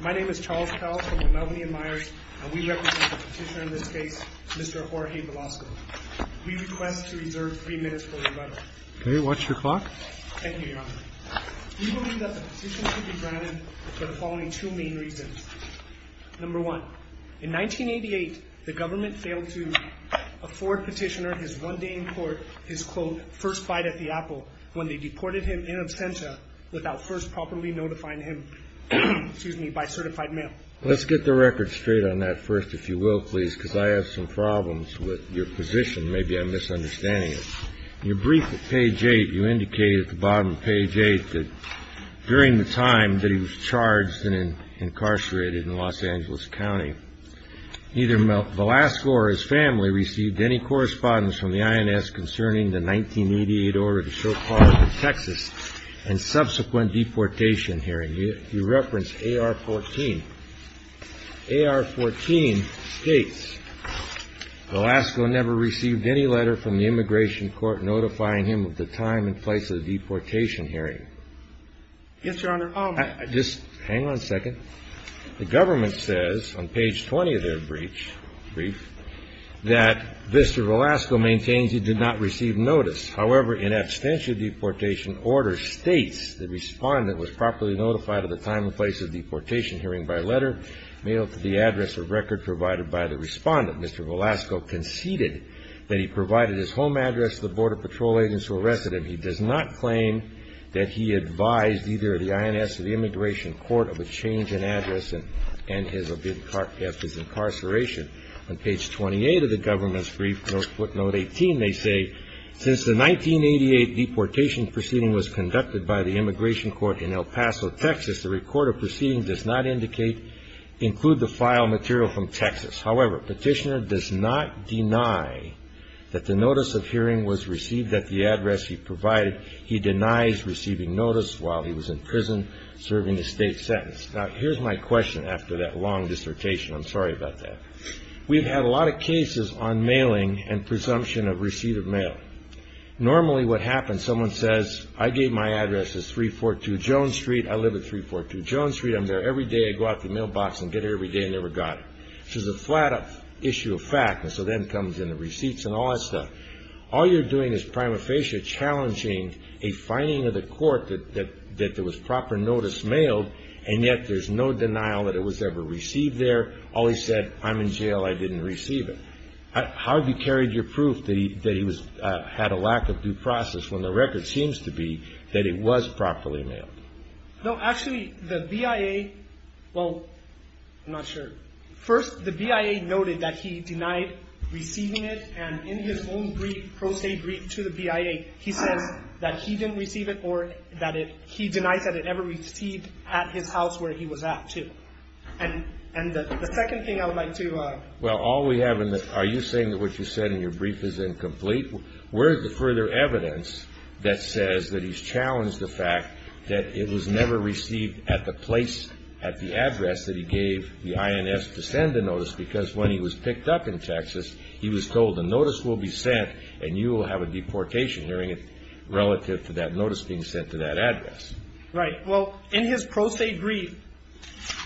My name is Charles Powell from the Melvinian Myers, and we represent the petitioner in this case, Mr. Jorge Velasco. We request to reserve three minutes for rebuttal. Okay, what's your clock? Thank you, Your Honor. We believe that the petition should be granted for the following two main reasons. Number one, in 1988, the government failed to afford petitioner his one day in court, his quote, when they deported him in absentia without first properly notifying him, excuse me, by certified mail. Let's get the record straight on that first, if you will, please, because I have some problems with your position. Maybe I'm misunderstanding it. In your brief at page eight, you indicated at the bottom of page eight that during the time that he was charged and incarcerated in Los Angeles County, neither Velasco or his family received any correspondence from the INS concerning the 1988 order to so-call Texas and subsequent deportation hearing. You referenced AR-14. AR-14 states Velasco never received any letter from the immigration court notifying him of the time and place of the deportation hearing. Yes, Your Honor. Just hang on a second. The government says on page 20 of their brief that Mr. Velasco maintains he did not receive notice. However, in absentia deportation order states the respondent was properly notified of the time and place of deportation hearing by letter mailed to the address or record provided by the respondent. Mr. Velasco conceded that he provided his home address to the border patrol agents who arrested him. He does not claim that he advised either the INS or the immigration court of a change in address and his incarceration. On page 28 of the government's brief, footnote 18, they say, since the 1988 deportation proceeding was conducted by the immigration court in El Paso, Texas, the recorded proceeding does not include the file material from Texas. However, petitioner does not deny that the notice of hearing was received at the address he provided. He denies receiving notice while he was in prison serving a state sentence. Now, here's my question after that long dissertation. I'm sorry about that. We've had a lot of cases on mailing and presumption of receipt of mail. Normally what happens, someone says, I gave my address as 342 Jones Street. I live at 342 Jones Street. I'm there every day. I go out to the mailbox and get it every day and never got it. This is a flat-up issue of fact, and so then comes in the receipts and all that stuff. All you're doing is prima facie challenging a finding of the court that there was proper notice mailed, and yet there's no denial that it was ever received there. All he said, I'm in jail. I didn't receive it. How have you carried your proof that he had a lack of due process when the record seems to be that it was properly mailed? No, actually, the BIA, well, I'm not sure. First, the BIA noted that he denied receiving it, and in his own pro se brief to the BIA, he says that he didn't receive it or that he denies that it ever received at his house where he was at, too. And the second thing I would like to – Well, all we have in the – are you saying that what you said in your brief is incomplete? Where is the further evidence that says that he's challenged the fact that it was never received at the place, at the address that he gave the INS to send the notice? Because when he was picked up in Texas, he was told the notice will be sent, and you will have a deportation hearing it relative to that notice being sent to that address. Right. Well, in his pro se brief,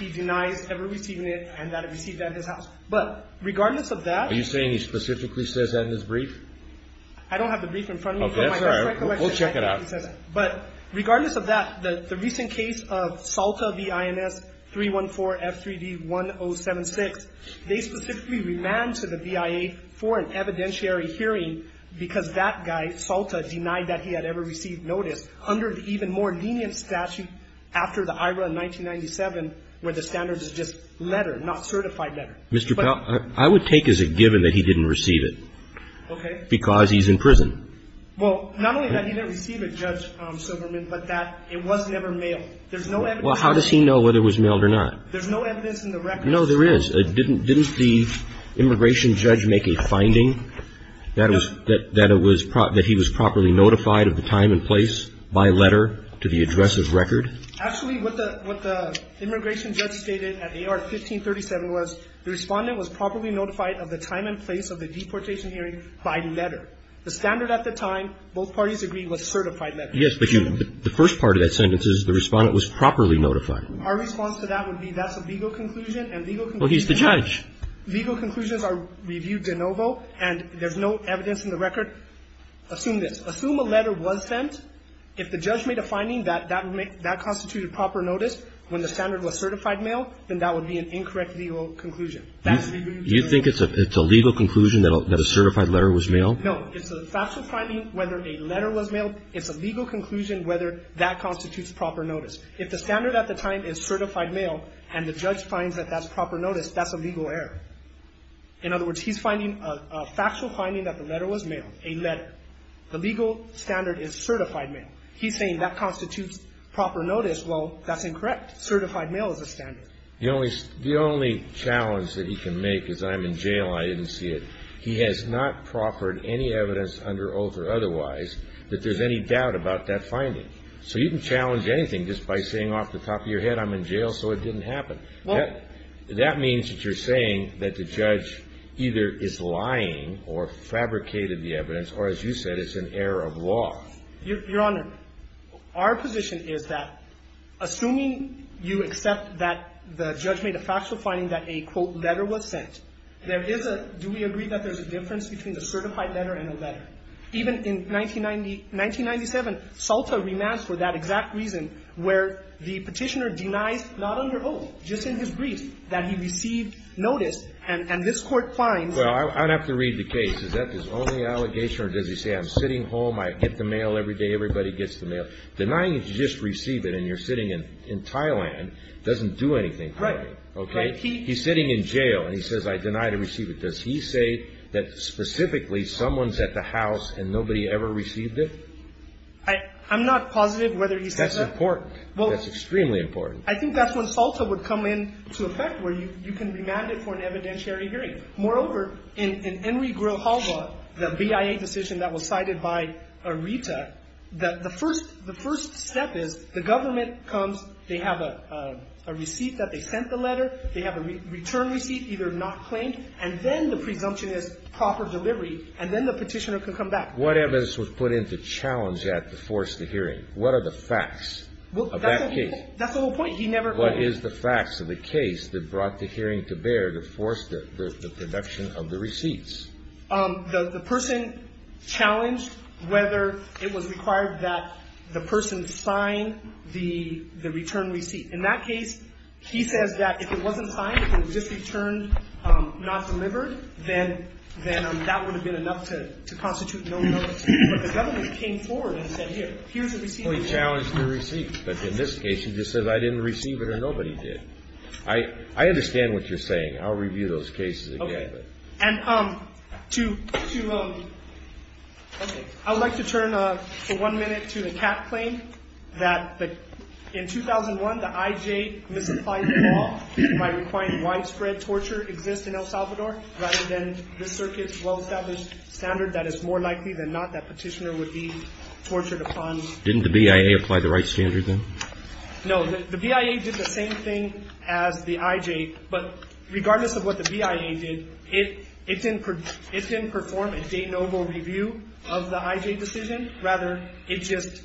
he denies ever receiving it and that it was received at his house. But regardless of that – Are you saying he specifically says that in his brief? I don't have the brief in front of me. Okay, that's all right. We'll check it out. But regardless of that, the recent case of Salta v. INS 314F3D1076, they specifically remand to the BIA for an evidentiary hearing because that guy, Salta, denied that he had ever received notice under the even more lenient statute after the IRA in 1997 where the standard is just letter, not certified letter. Mr. Powell, I would take as a given that he didn't receive it. Okay. Because he's in prison. Well, not only that he didn't receive it, Judge Silverman, but that it was never mailed. There's no evidence. Well, how does he know whether it was mailed or not? There's no evidence in the record. No, there is. Didn't the immigration judge make a finding that he was properly notified of the time and place by letter to the address of record? Actually, what the immigration judge stated at AR 1537 was the respondent was properly notified of the time and place of the deportation hearing by letter. The standard at the time, both parties agreed, was certified letter. Yes, but the first part of that sentence is the respondent was properly notified. Our response to that would be that's a legal conclusion and legal conclusions are reviewed de novo and there's no evidence in the record. Assume this. Assume a letter was sent. If the judge made a finding that that constituted proper notice when the standard was certified mail, then that would be an incorrect legal conclusion. You think it's a legal conclusion that a certified letter was mailed? No. It's a factual finding whether a letter was mailed. It's a legal conclusion whether that constitutes proper notice. If the standard at the time is certified mail and the judge finds that that's proper notice, that's a legal error. In other words, he's finding a factual finding that the letter was mailed, a letter. The legal standard is certified mail. He's saying that constitutes proper notice. Well, that's incorrect. Certified mail is a standard. The only challenge that he can make is I'm in jail. I didn't see it. He has not proffered any evidence under oath or otherwise that there's any doubt about that finding. So you can challenge anything just by saying off the top of your head I'm in jail so it didn't happen. That means that you're saying that the judge either is lying or fabricated the evidence or, as you said, it's an error of law. Your Honor, our position is that assuming you accept that the judge made a factual finding that a, quote, letter was sent, there is a do we agree that there's a difference between a certified letter and a letter? Even in 1997, Salta remands for that exact reason where the Petitioner denies, not under oath, just in his brief, that he received notice and this Court finds that Well, I would have to read the case. Is that his only allegation or does he say I'm sitting home, I get the mail every day, everybody gets the mail? Denying that you just received it and you're sitting in Thailand doesn't do anything for you. He's sitting in jail and he says I deny to receive it. Does he say that specifically someone's at the house and nobody ever received it? I'm not positive whether he says that. That's important. That's extremely important. I think that's when Salta would come into effect where you can remand it for an evidentiary hearing. Moreover, in Enri Grillo-Halva, the BIA decision that was cited by Rita, the first step is the government comes, they have a receipt that they sent the letter, they have a return receipt either not claimed, and then the presumption is proper delivery and then the Petitioner can come back. What evidence was put into challenge at the force of the hearing? What are the facts of that case? That's the whole point. What is the facts of the case that brought the hearing to bear to force the production of the receipts? The person challenged whether it was required that the person sign the return receipt. In that case, he says that if it wasn't signed, if it was just returned not delivered, then that would have been enough to constitute no notice. But the government came forward and said here, here's the receipt. They challenged the receipt. But in this case, he just says I didn't receive it or nobody did. I understand what you're saying. I'll review those cases again. Okay. And to – okay. I would like to turn for one minute to the Catt claim that in 2001, the IJ misapplying law might require widespread torture exists in El Salvador rather than this circuit's well-established standard that it's more likely than not that Petitioner would be tortured upon. Didn't the BIA apply the right standard then? No. The BIA did the same thing as the IJ. But regardless of what the BIA did, it didn't perform a de novo review of the IJ decision. Rather, it just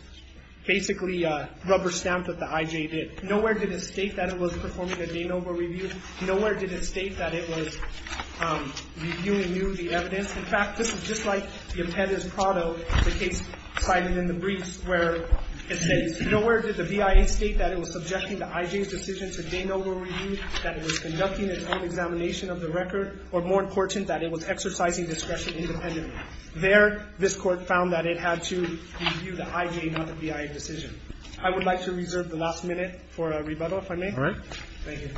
basically rubber-stamped what the IJ did. Nowhere did it state that it was performing a de novo review. Nowhere did it state that it was reviewing new evidence. In fact, this is just like the Appendix Prado, the case cited in the briefs, where it says nowhere did the BIA state that it was subjecting the IJ's decision to de novo review, that it was conducting its own examination of the record, or more important, that it was exercising discretion independently. There, this Court found that it had to review the IJ, not the BIA decision. I would like to reserve the last minute for a rebuttal, if I may. All right. Thank you.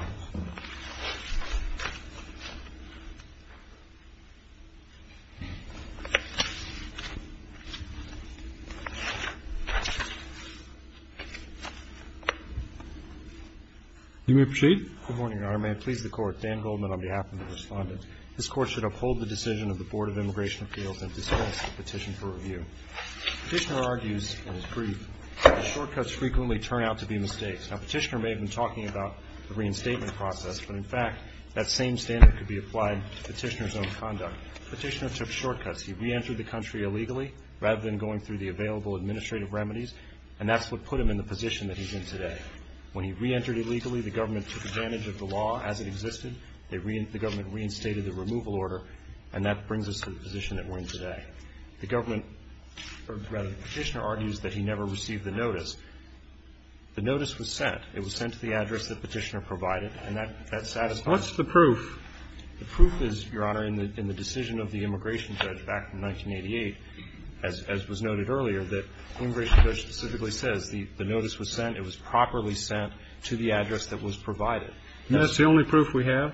You may proceed. Good morning, Your Honor. May it please the Court. Dan Goldman on behalf of the Respondent. This Court should uphold the decision of the Board of Immigration Appeals and dispense the petition for review. Petitioner argues in his brief that the shortcuts frequently turn out to be mistakes. Now, Petitioner may have been talking about the reinstatement process, but in fact, that same standard could be applied to Petitioner's own conduct. Petitioner took shortcuts. He reentered the country illegally, rather than going through the available administrative remedies, and that's what put him in the position that he's in today. When he reentered illegally, the government took advantage of the law as it existed. The government reinstated the removal order, and that brings us to the position that we're in today. The government, or rather, Petitioner argues that he never received the notice. The notice was sent. It was sent to the address that Petitioner provided, and that satisfied him. What's the proof? The proof is, Your Honor, in the decision of the immigration judge back in 1988, as was noted earlier, that the immigration judge specifically says the notice was sent, it was properly sent to the address that was provided. And that's the only proof we have?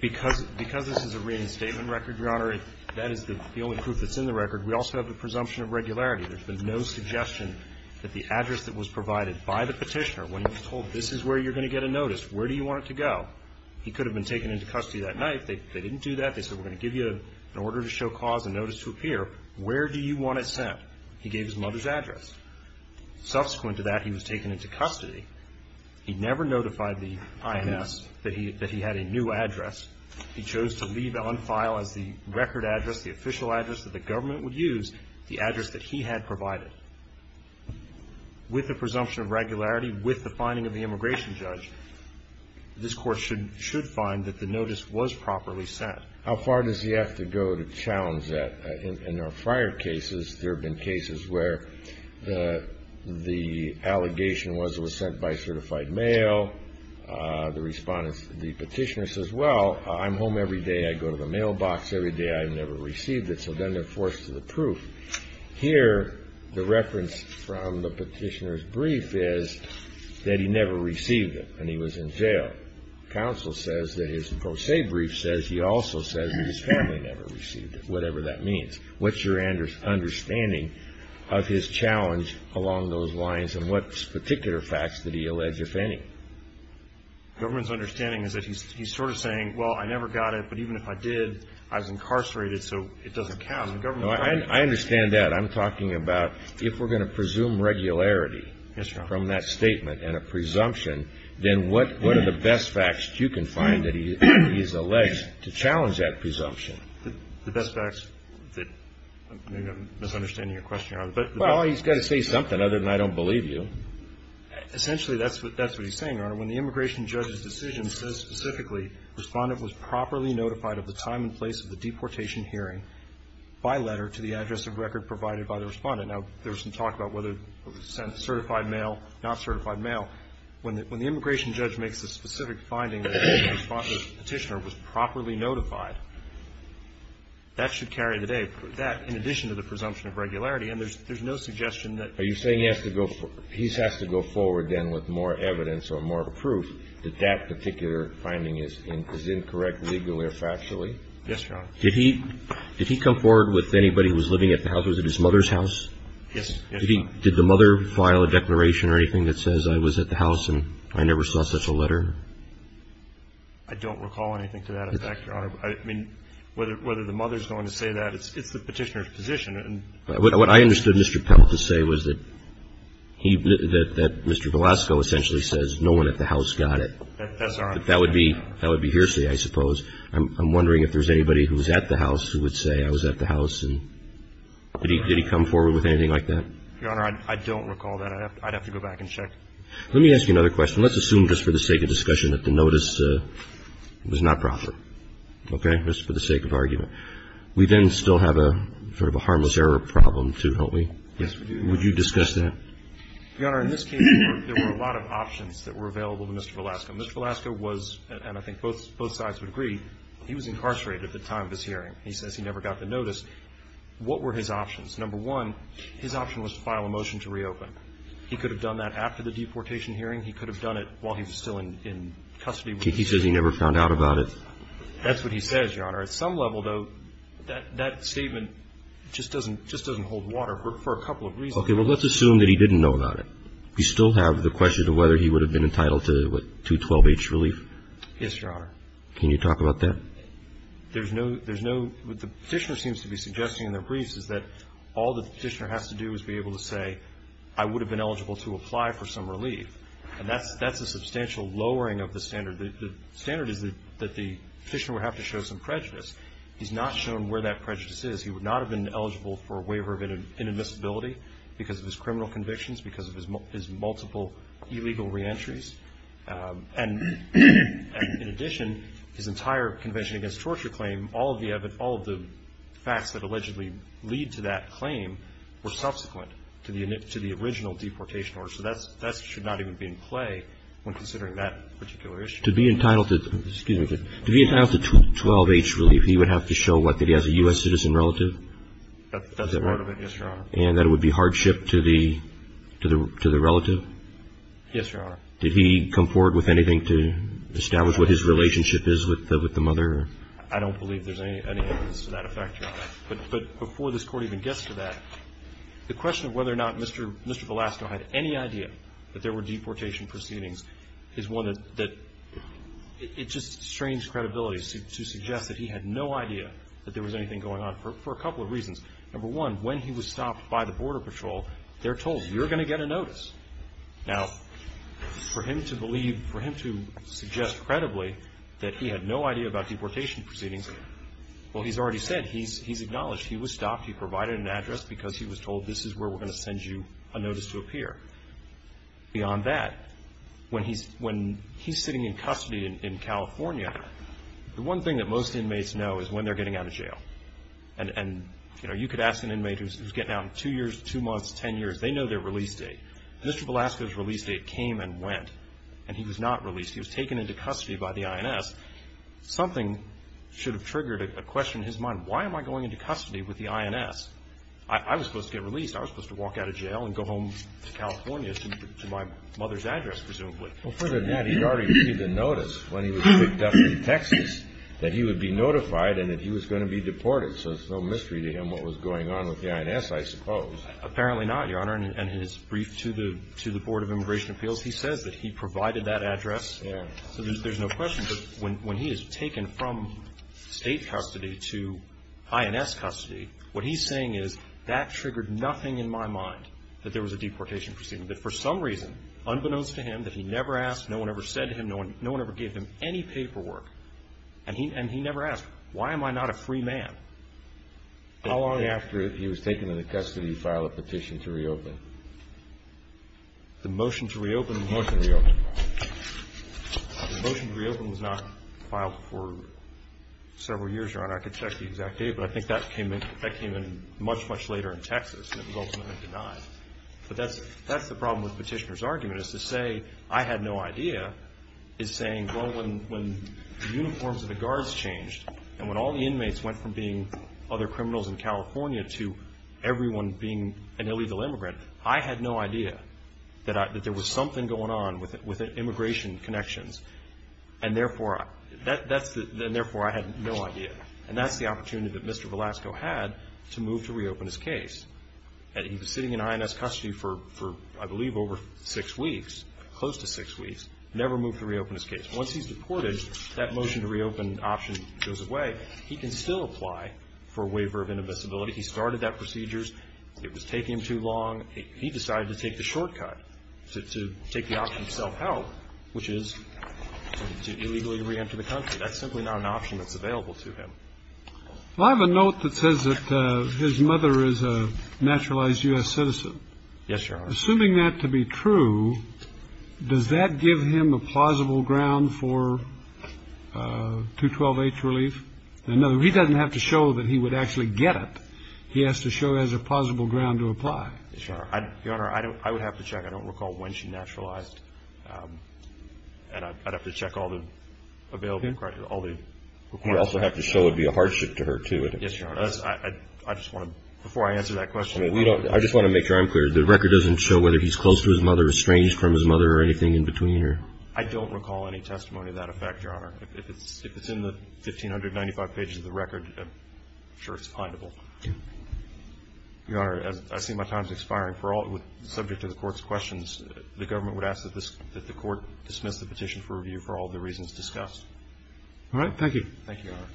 Because this is a reinstatement record, Your Honor, that is the only proof that's in the record. We also have the presumption of regularity. There's been no suggestion that the address that was provided by the Petitioner, when he was told, This is where you're going to get a notice. Where do you want it to go? He could have been taken into custody that night. They didn't do that. They said, We're going to give you an order to show cause and notice to appear. Where do you want it sent? He gave his mother's address. Subsequent to that, he was taken into custody. He never notified the IMS that he had a new address. He chose to leave it on file as the record address, the official address that the Petitioner provided. With the presumption of regularity, with the finding of the immigration judge, this Court should find that the notice was properly sent. How far does he have to go to challenge that? In our prior cases, there have been cases where the allegation was it was sent by certified mail. The Respondent, the Petitioner says, Well, I'm home every day. I go to the mailbox every day. I've never received it. So then they're forced to approve. Here, the reference from the Petitioner's brief is that he never received it and he was in jail. Counsel says that his pro se brief says he also says that his family never received it, whatever that means. What's your understanding of his challenge along those lines and what particular facts did he allege, if any? The government's understanding is that he's sort of saying, Well, I never got it, but even if I did, I was incarcerated, so it doesn't count. I understand that. I'm talking about if we're going to presume regularity from that statement and a presumption, then what are the best facts you can find that he has alleged to challenge that presumption? The best facts that maybe I'm misunderstanding your question, Your Honor. Well, he's got to say something other than I don't believe you. Essentially, that's what he's saying, Your Honor. When the immigration judge's decision says specifically the Respondent was properly notified of the time and place of the deportation hearing by letter to the address of record provided by the Respondent. Now, there's some talk about whether it was sent certified mail, not certified mail. When the immigration judge makes a specific finding that the Respondent, the Petitioner, was properly notified, that should carry the day. That, in addition to the presumption of regularity, and there's no suggestion that he has to go forward then with more evidence or more proof that that particular finding is incorrect legally or factually. Yes, Your Honor. Did he come forward with anybody who was living at the house? Was it his mother's house? Yes. Did the mother file a declaration or anything that says I was at the house and I never saw such a letter? I don't recall anything to that effect, Your Honor. I mean, whether the mother's going to say that, it's the Petitioner's position. What I understood Mr. Pell to say was that Mr. Velasco essentially says no one at the house got it. That's right. But that would be hearsay, I suppose. I'm wondering if there's anybody who was at the house who would say I was at the house and did he come forward with anything like that? Your Honor, I don't recall that. I'd have to go back and check. Let me ask you another question. Let's assume just for the sake of discussion that the notice was not proper, okay, just for the sake of argument. We then still have a sort of a harmless error problem, too, don't we? Yes, we do. Would you discuss that? Your Honor, in this case, there were a lot of options that were available to Mr. Velasco. Mr. Velasco was, and I think both sides would agree, he was incarcerated at the time of his hearing. He says he never got the notice. What were his options? Number one, his option was to file a motion to reopen. He could have done that after the deportation hearing. He could have done it while he was still in custody. He says he never found out about it. That's what he says, Your Honor. At some level, though, that statement just doesn't hold water for a couple of reasons. Okay. Well, let's assume that he didn't know about it. You still have the question of whether he would have been entitled to, what, 212H relief? Yes, Your Honor. Can you talk about that? There's no – there's no – what the Petitioner seems to be suggesting in the briefs is that all that the Petitioner has to do is be able to say, I would have been eligible to apply for some relief. And that's a substantial lowering of the standard. The standard is that the Petitioner would have to show some prejudice. He's not shown where that prejudice is. He would not have been eligible for a waiver of inadmissibility because of his criminal convictions, because of his multiple illegal reentries. And in addition, his entire Convention Against Torture claim, all of the facts that allegedly lead to that claim were subsequent to the original deportation order. So that should not even be in play when considering that particular issue. To be entitled to – excuse me. To be entitled to 212H relief, he would have to show, what, that he has a U.S. citizen relative? That's a part of it, yes, Your Honor. And that it would be hardship to the relative? Yes, Your Honor. Did he come forward with anything to establish what his relationship is with the mother? I don't believe there's any evidence to that effect, Your Honor. But before this Court even gets to that, the question of whether or not Mr. Velasco had any idea that there were deportation proceedings is one that – it just strains credibility to suggest that he had no idea that there was anything going on for a couple of reasons. Number one, when he was stopped by the Border Patrol, they're told, you're going to get a notice. Now, for him to believe – for him to suggest credibly that he had no idea about deportation proceedings, well, he's already said, he's acknowledged. He was stopped. He provided an address because he was told, this is where we're going to send you a notice to appear. Beyond that, when he's sitting in custody in California, the one thing that most inmates know is when they're getting out of jail. And, you know, you could ask an inmate who's getting out in two years, two months, ten years. They know their release date. Mr. Velasco's release date came and went, and he was not released. He was taken into custody by the INS. Something should have triggered a question in his mind. Why am I going into custody with the INS? I was supposed to get released. I was supposed to walk out of jail and go home to California to my mother's address, presumably. Well, further than that, he already received a notice when he was picked up in Texas that he would be notified and that he was going to be deported. So it's no mystery to him what was going on with the INS, I suppose. Apparently not, Your Honor. And in his brief to the Board of Immigration Appeals, he says that he provided that address. Yes. So there's no question. But when he is taken from State custody to INS custody, what he's saying is that triggered nothing in my mind that there was a deportation proceeding. That for some reason, unbeknownst to him, that he never asked, no one ever said to him, no one ever gave him any paperwork. And he never asked, why am I not a free man? How long after he was taken into custody did he file a petition to reopen? The motion to reopen was not filed for several years, Your Honor. I could check the exact date, but I think that came in much, much later in Texas, and it was ultimately denied. But that's the problem with the petitioner's argument, is to say, I had no idea, is saying, well, when the uniforms of the guards changed and when all the inmates went from being other criminals in California to everyone being an illegal immigrant, I had no idea that there was something going on with immigration connections. And therefore, I had no idea. And that's the opportunity that Mr. Velasco had to move to reopen his case. And he was sitting in INS custody for, I believe, over six weeks, close to six weeks, never moved to reopen his case. Once he's deported, that motion to reopen option goes away. He can still apply for a waiver of indivisibility. He started that procedure. It was taking him too long. He decided to take the shortcut, to take the option of self-help, which is to illegally reenter the country. That's simply not an option that's available to him. Well, I have a note that says that his mother is a naturalized U.S. citizen. Yes, Your Honor. Assuming that to be true, does that give him a plausible ground for 212H relief? No, he doesn't have to show that he would actually get it. He has to show he has a plausible ground to apply. Yes, Your Honor. Your Honor, I would have to check. I don't recall when she naturalized. And I'd have to check all the available records. I'd also have to show it would be a hardship to her, too. Yes, Your Honor. Before I answer that question, I just want to make sure I'm clear. The record doesn't show whether he's close to his mother, estranged from his mother, or anything in between? I don't recall any testimony of that effect, Your Honor. If it's in the 1,595 pages of the record, I'm sure it's pliable. Your Honor, I see my time is expiring. Subject to the Court's questions, the government would ask that the Court dismiss the petition for review for all the reasons discussed. All right. Thank you. Thank you, Your Honor.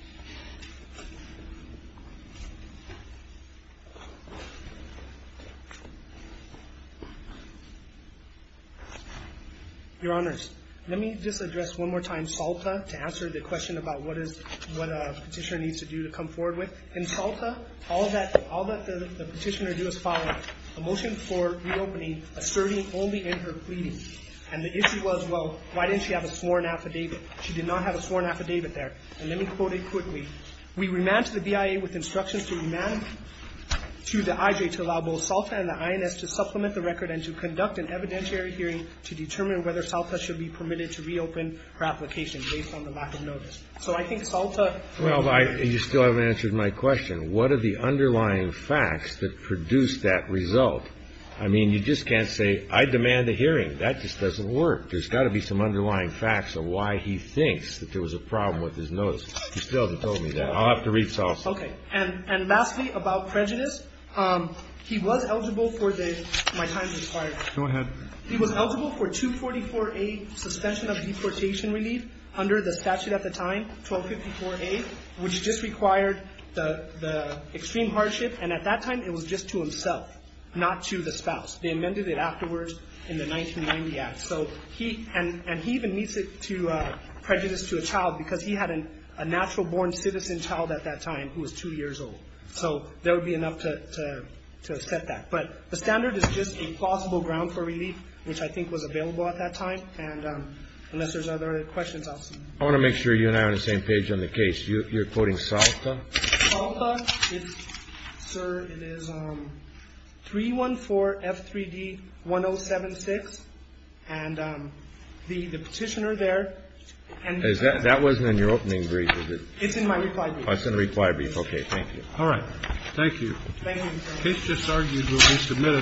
Your Honors, let me just address one more time Salta to answer the question about what a petitioner needs to do to come forward with. In Salta, all that the petitioner did was file a motion for reopening asserting only in her pleading. And the issue was, well, why didn't she have a sworn affidavit? She did not have a sworn affidavit there. And let me quote it quickly. We remanded the BIA with instructions to remand to the IJ to allow both Salta and the INS to supplement the record and to conduct an evidentiary hearing to determine whether Salta should be permitted to reopen her application based on the lack of notice. So I think Salta ---- Well, you still haven't answered my question. What are the underlying facts that produce that result? I mean, you just can't say, I demand a hearing. That just doesn't work. There's got to be some underlying facts of why he thinks that there was a problem with his notice. You still haven't told me that. I'll have to read Salta. Okay. And lastly, about prejudice, he was eligible for the ---- My time's expired. Go ahead. He was eligible for 244A suspension of deportation relief under the statute at the time, 1254A, which just required the extreme hardship. And at that time, it was just to himself, not to the spouse. They amended it afterwards in the 1990 Act. So he ---- and he even meets it to prejudice to a child because he had a natural-born citizen child at that time who was 2 years old. So there would be enough to set that. But the standard is just a plausible ground for relief, which I think was available at that time. And unless there's other questions, I'll ---- I want to make sure you and I are on the same page on the case. You're quoting Salta? Salta. Salta. Sir, it is 314F3D1076. And the petitioner there ---- That wasn't in your opening brief, was it? It's in my reply brief. Oh, it's in the reply brief. Okay. Thank you. All right. Thank you. Thank you.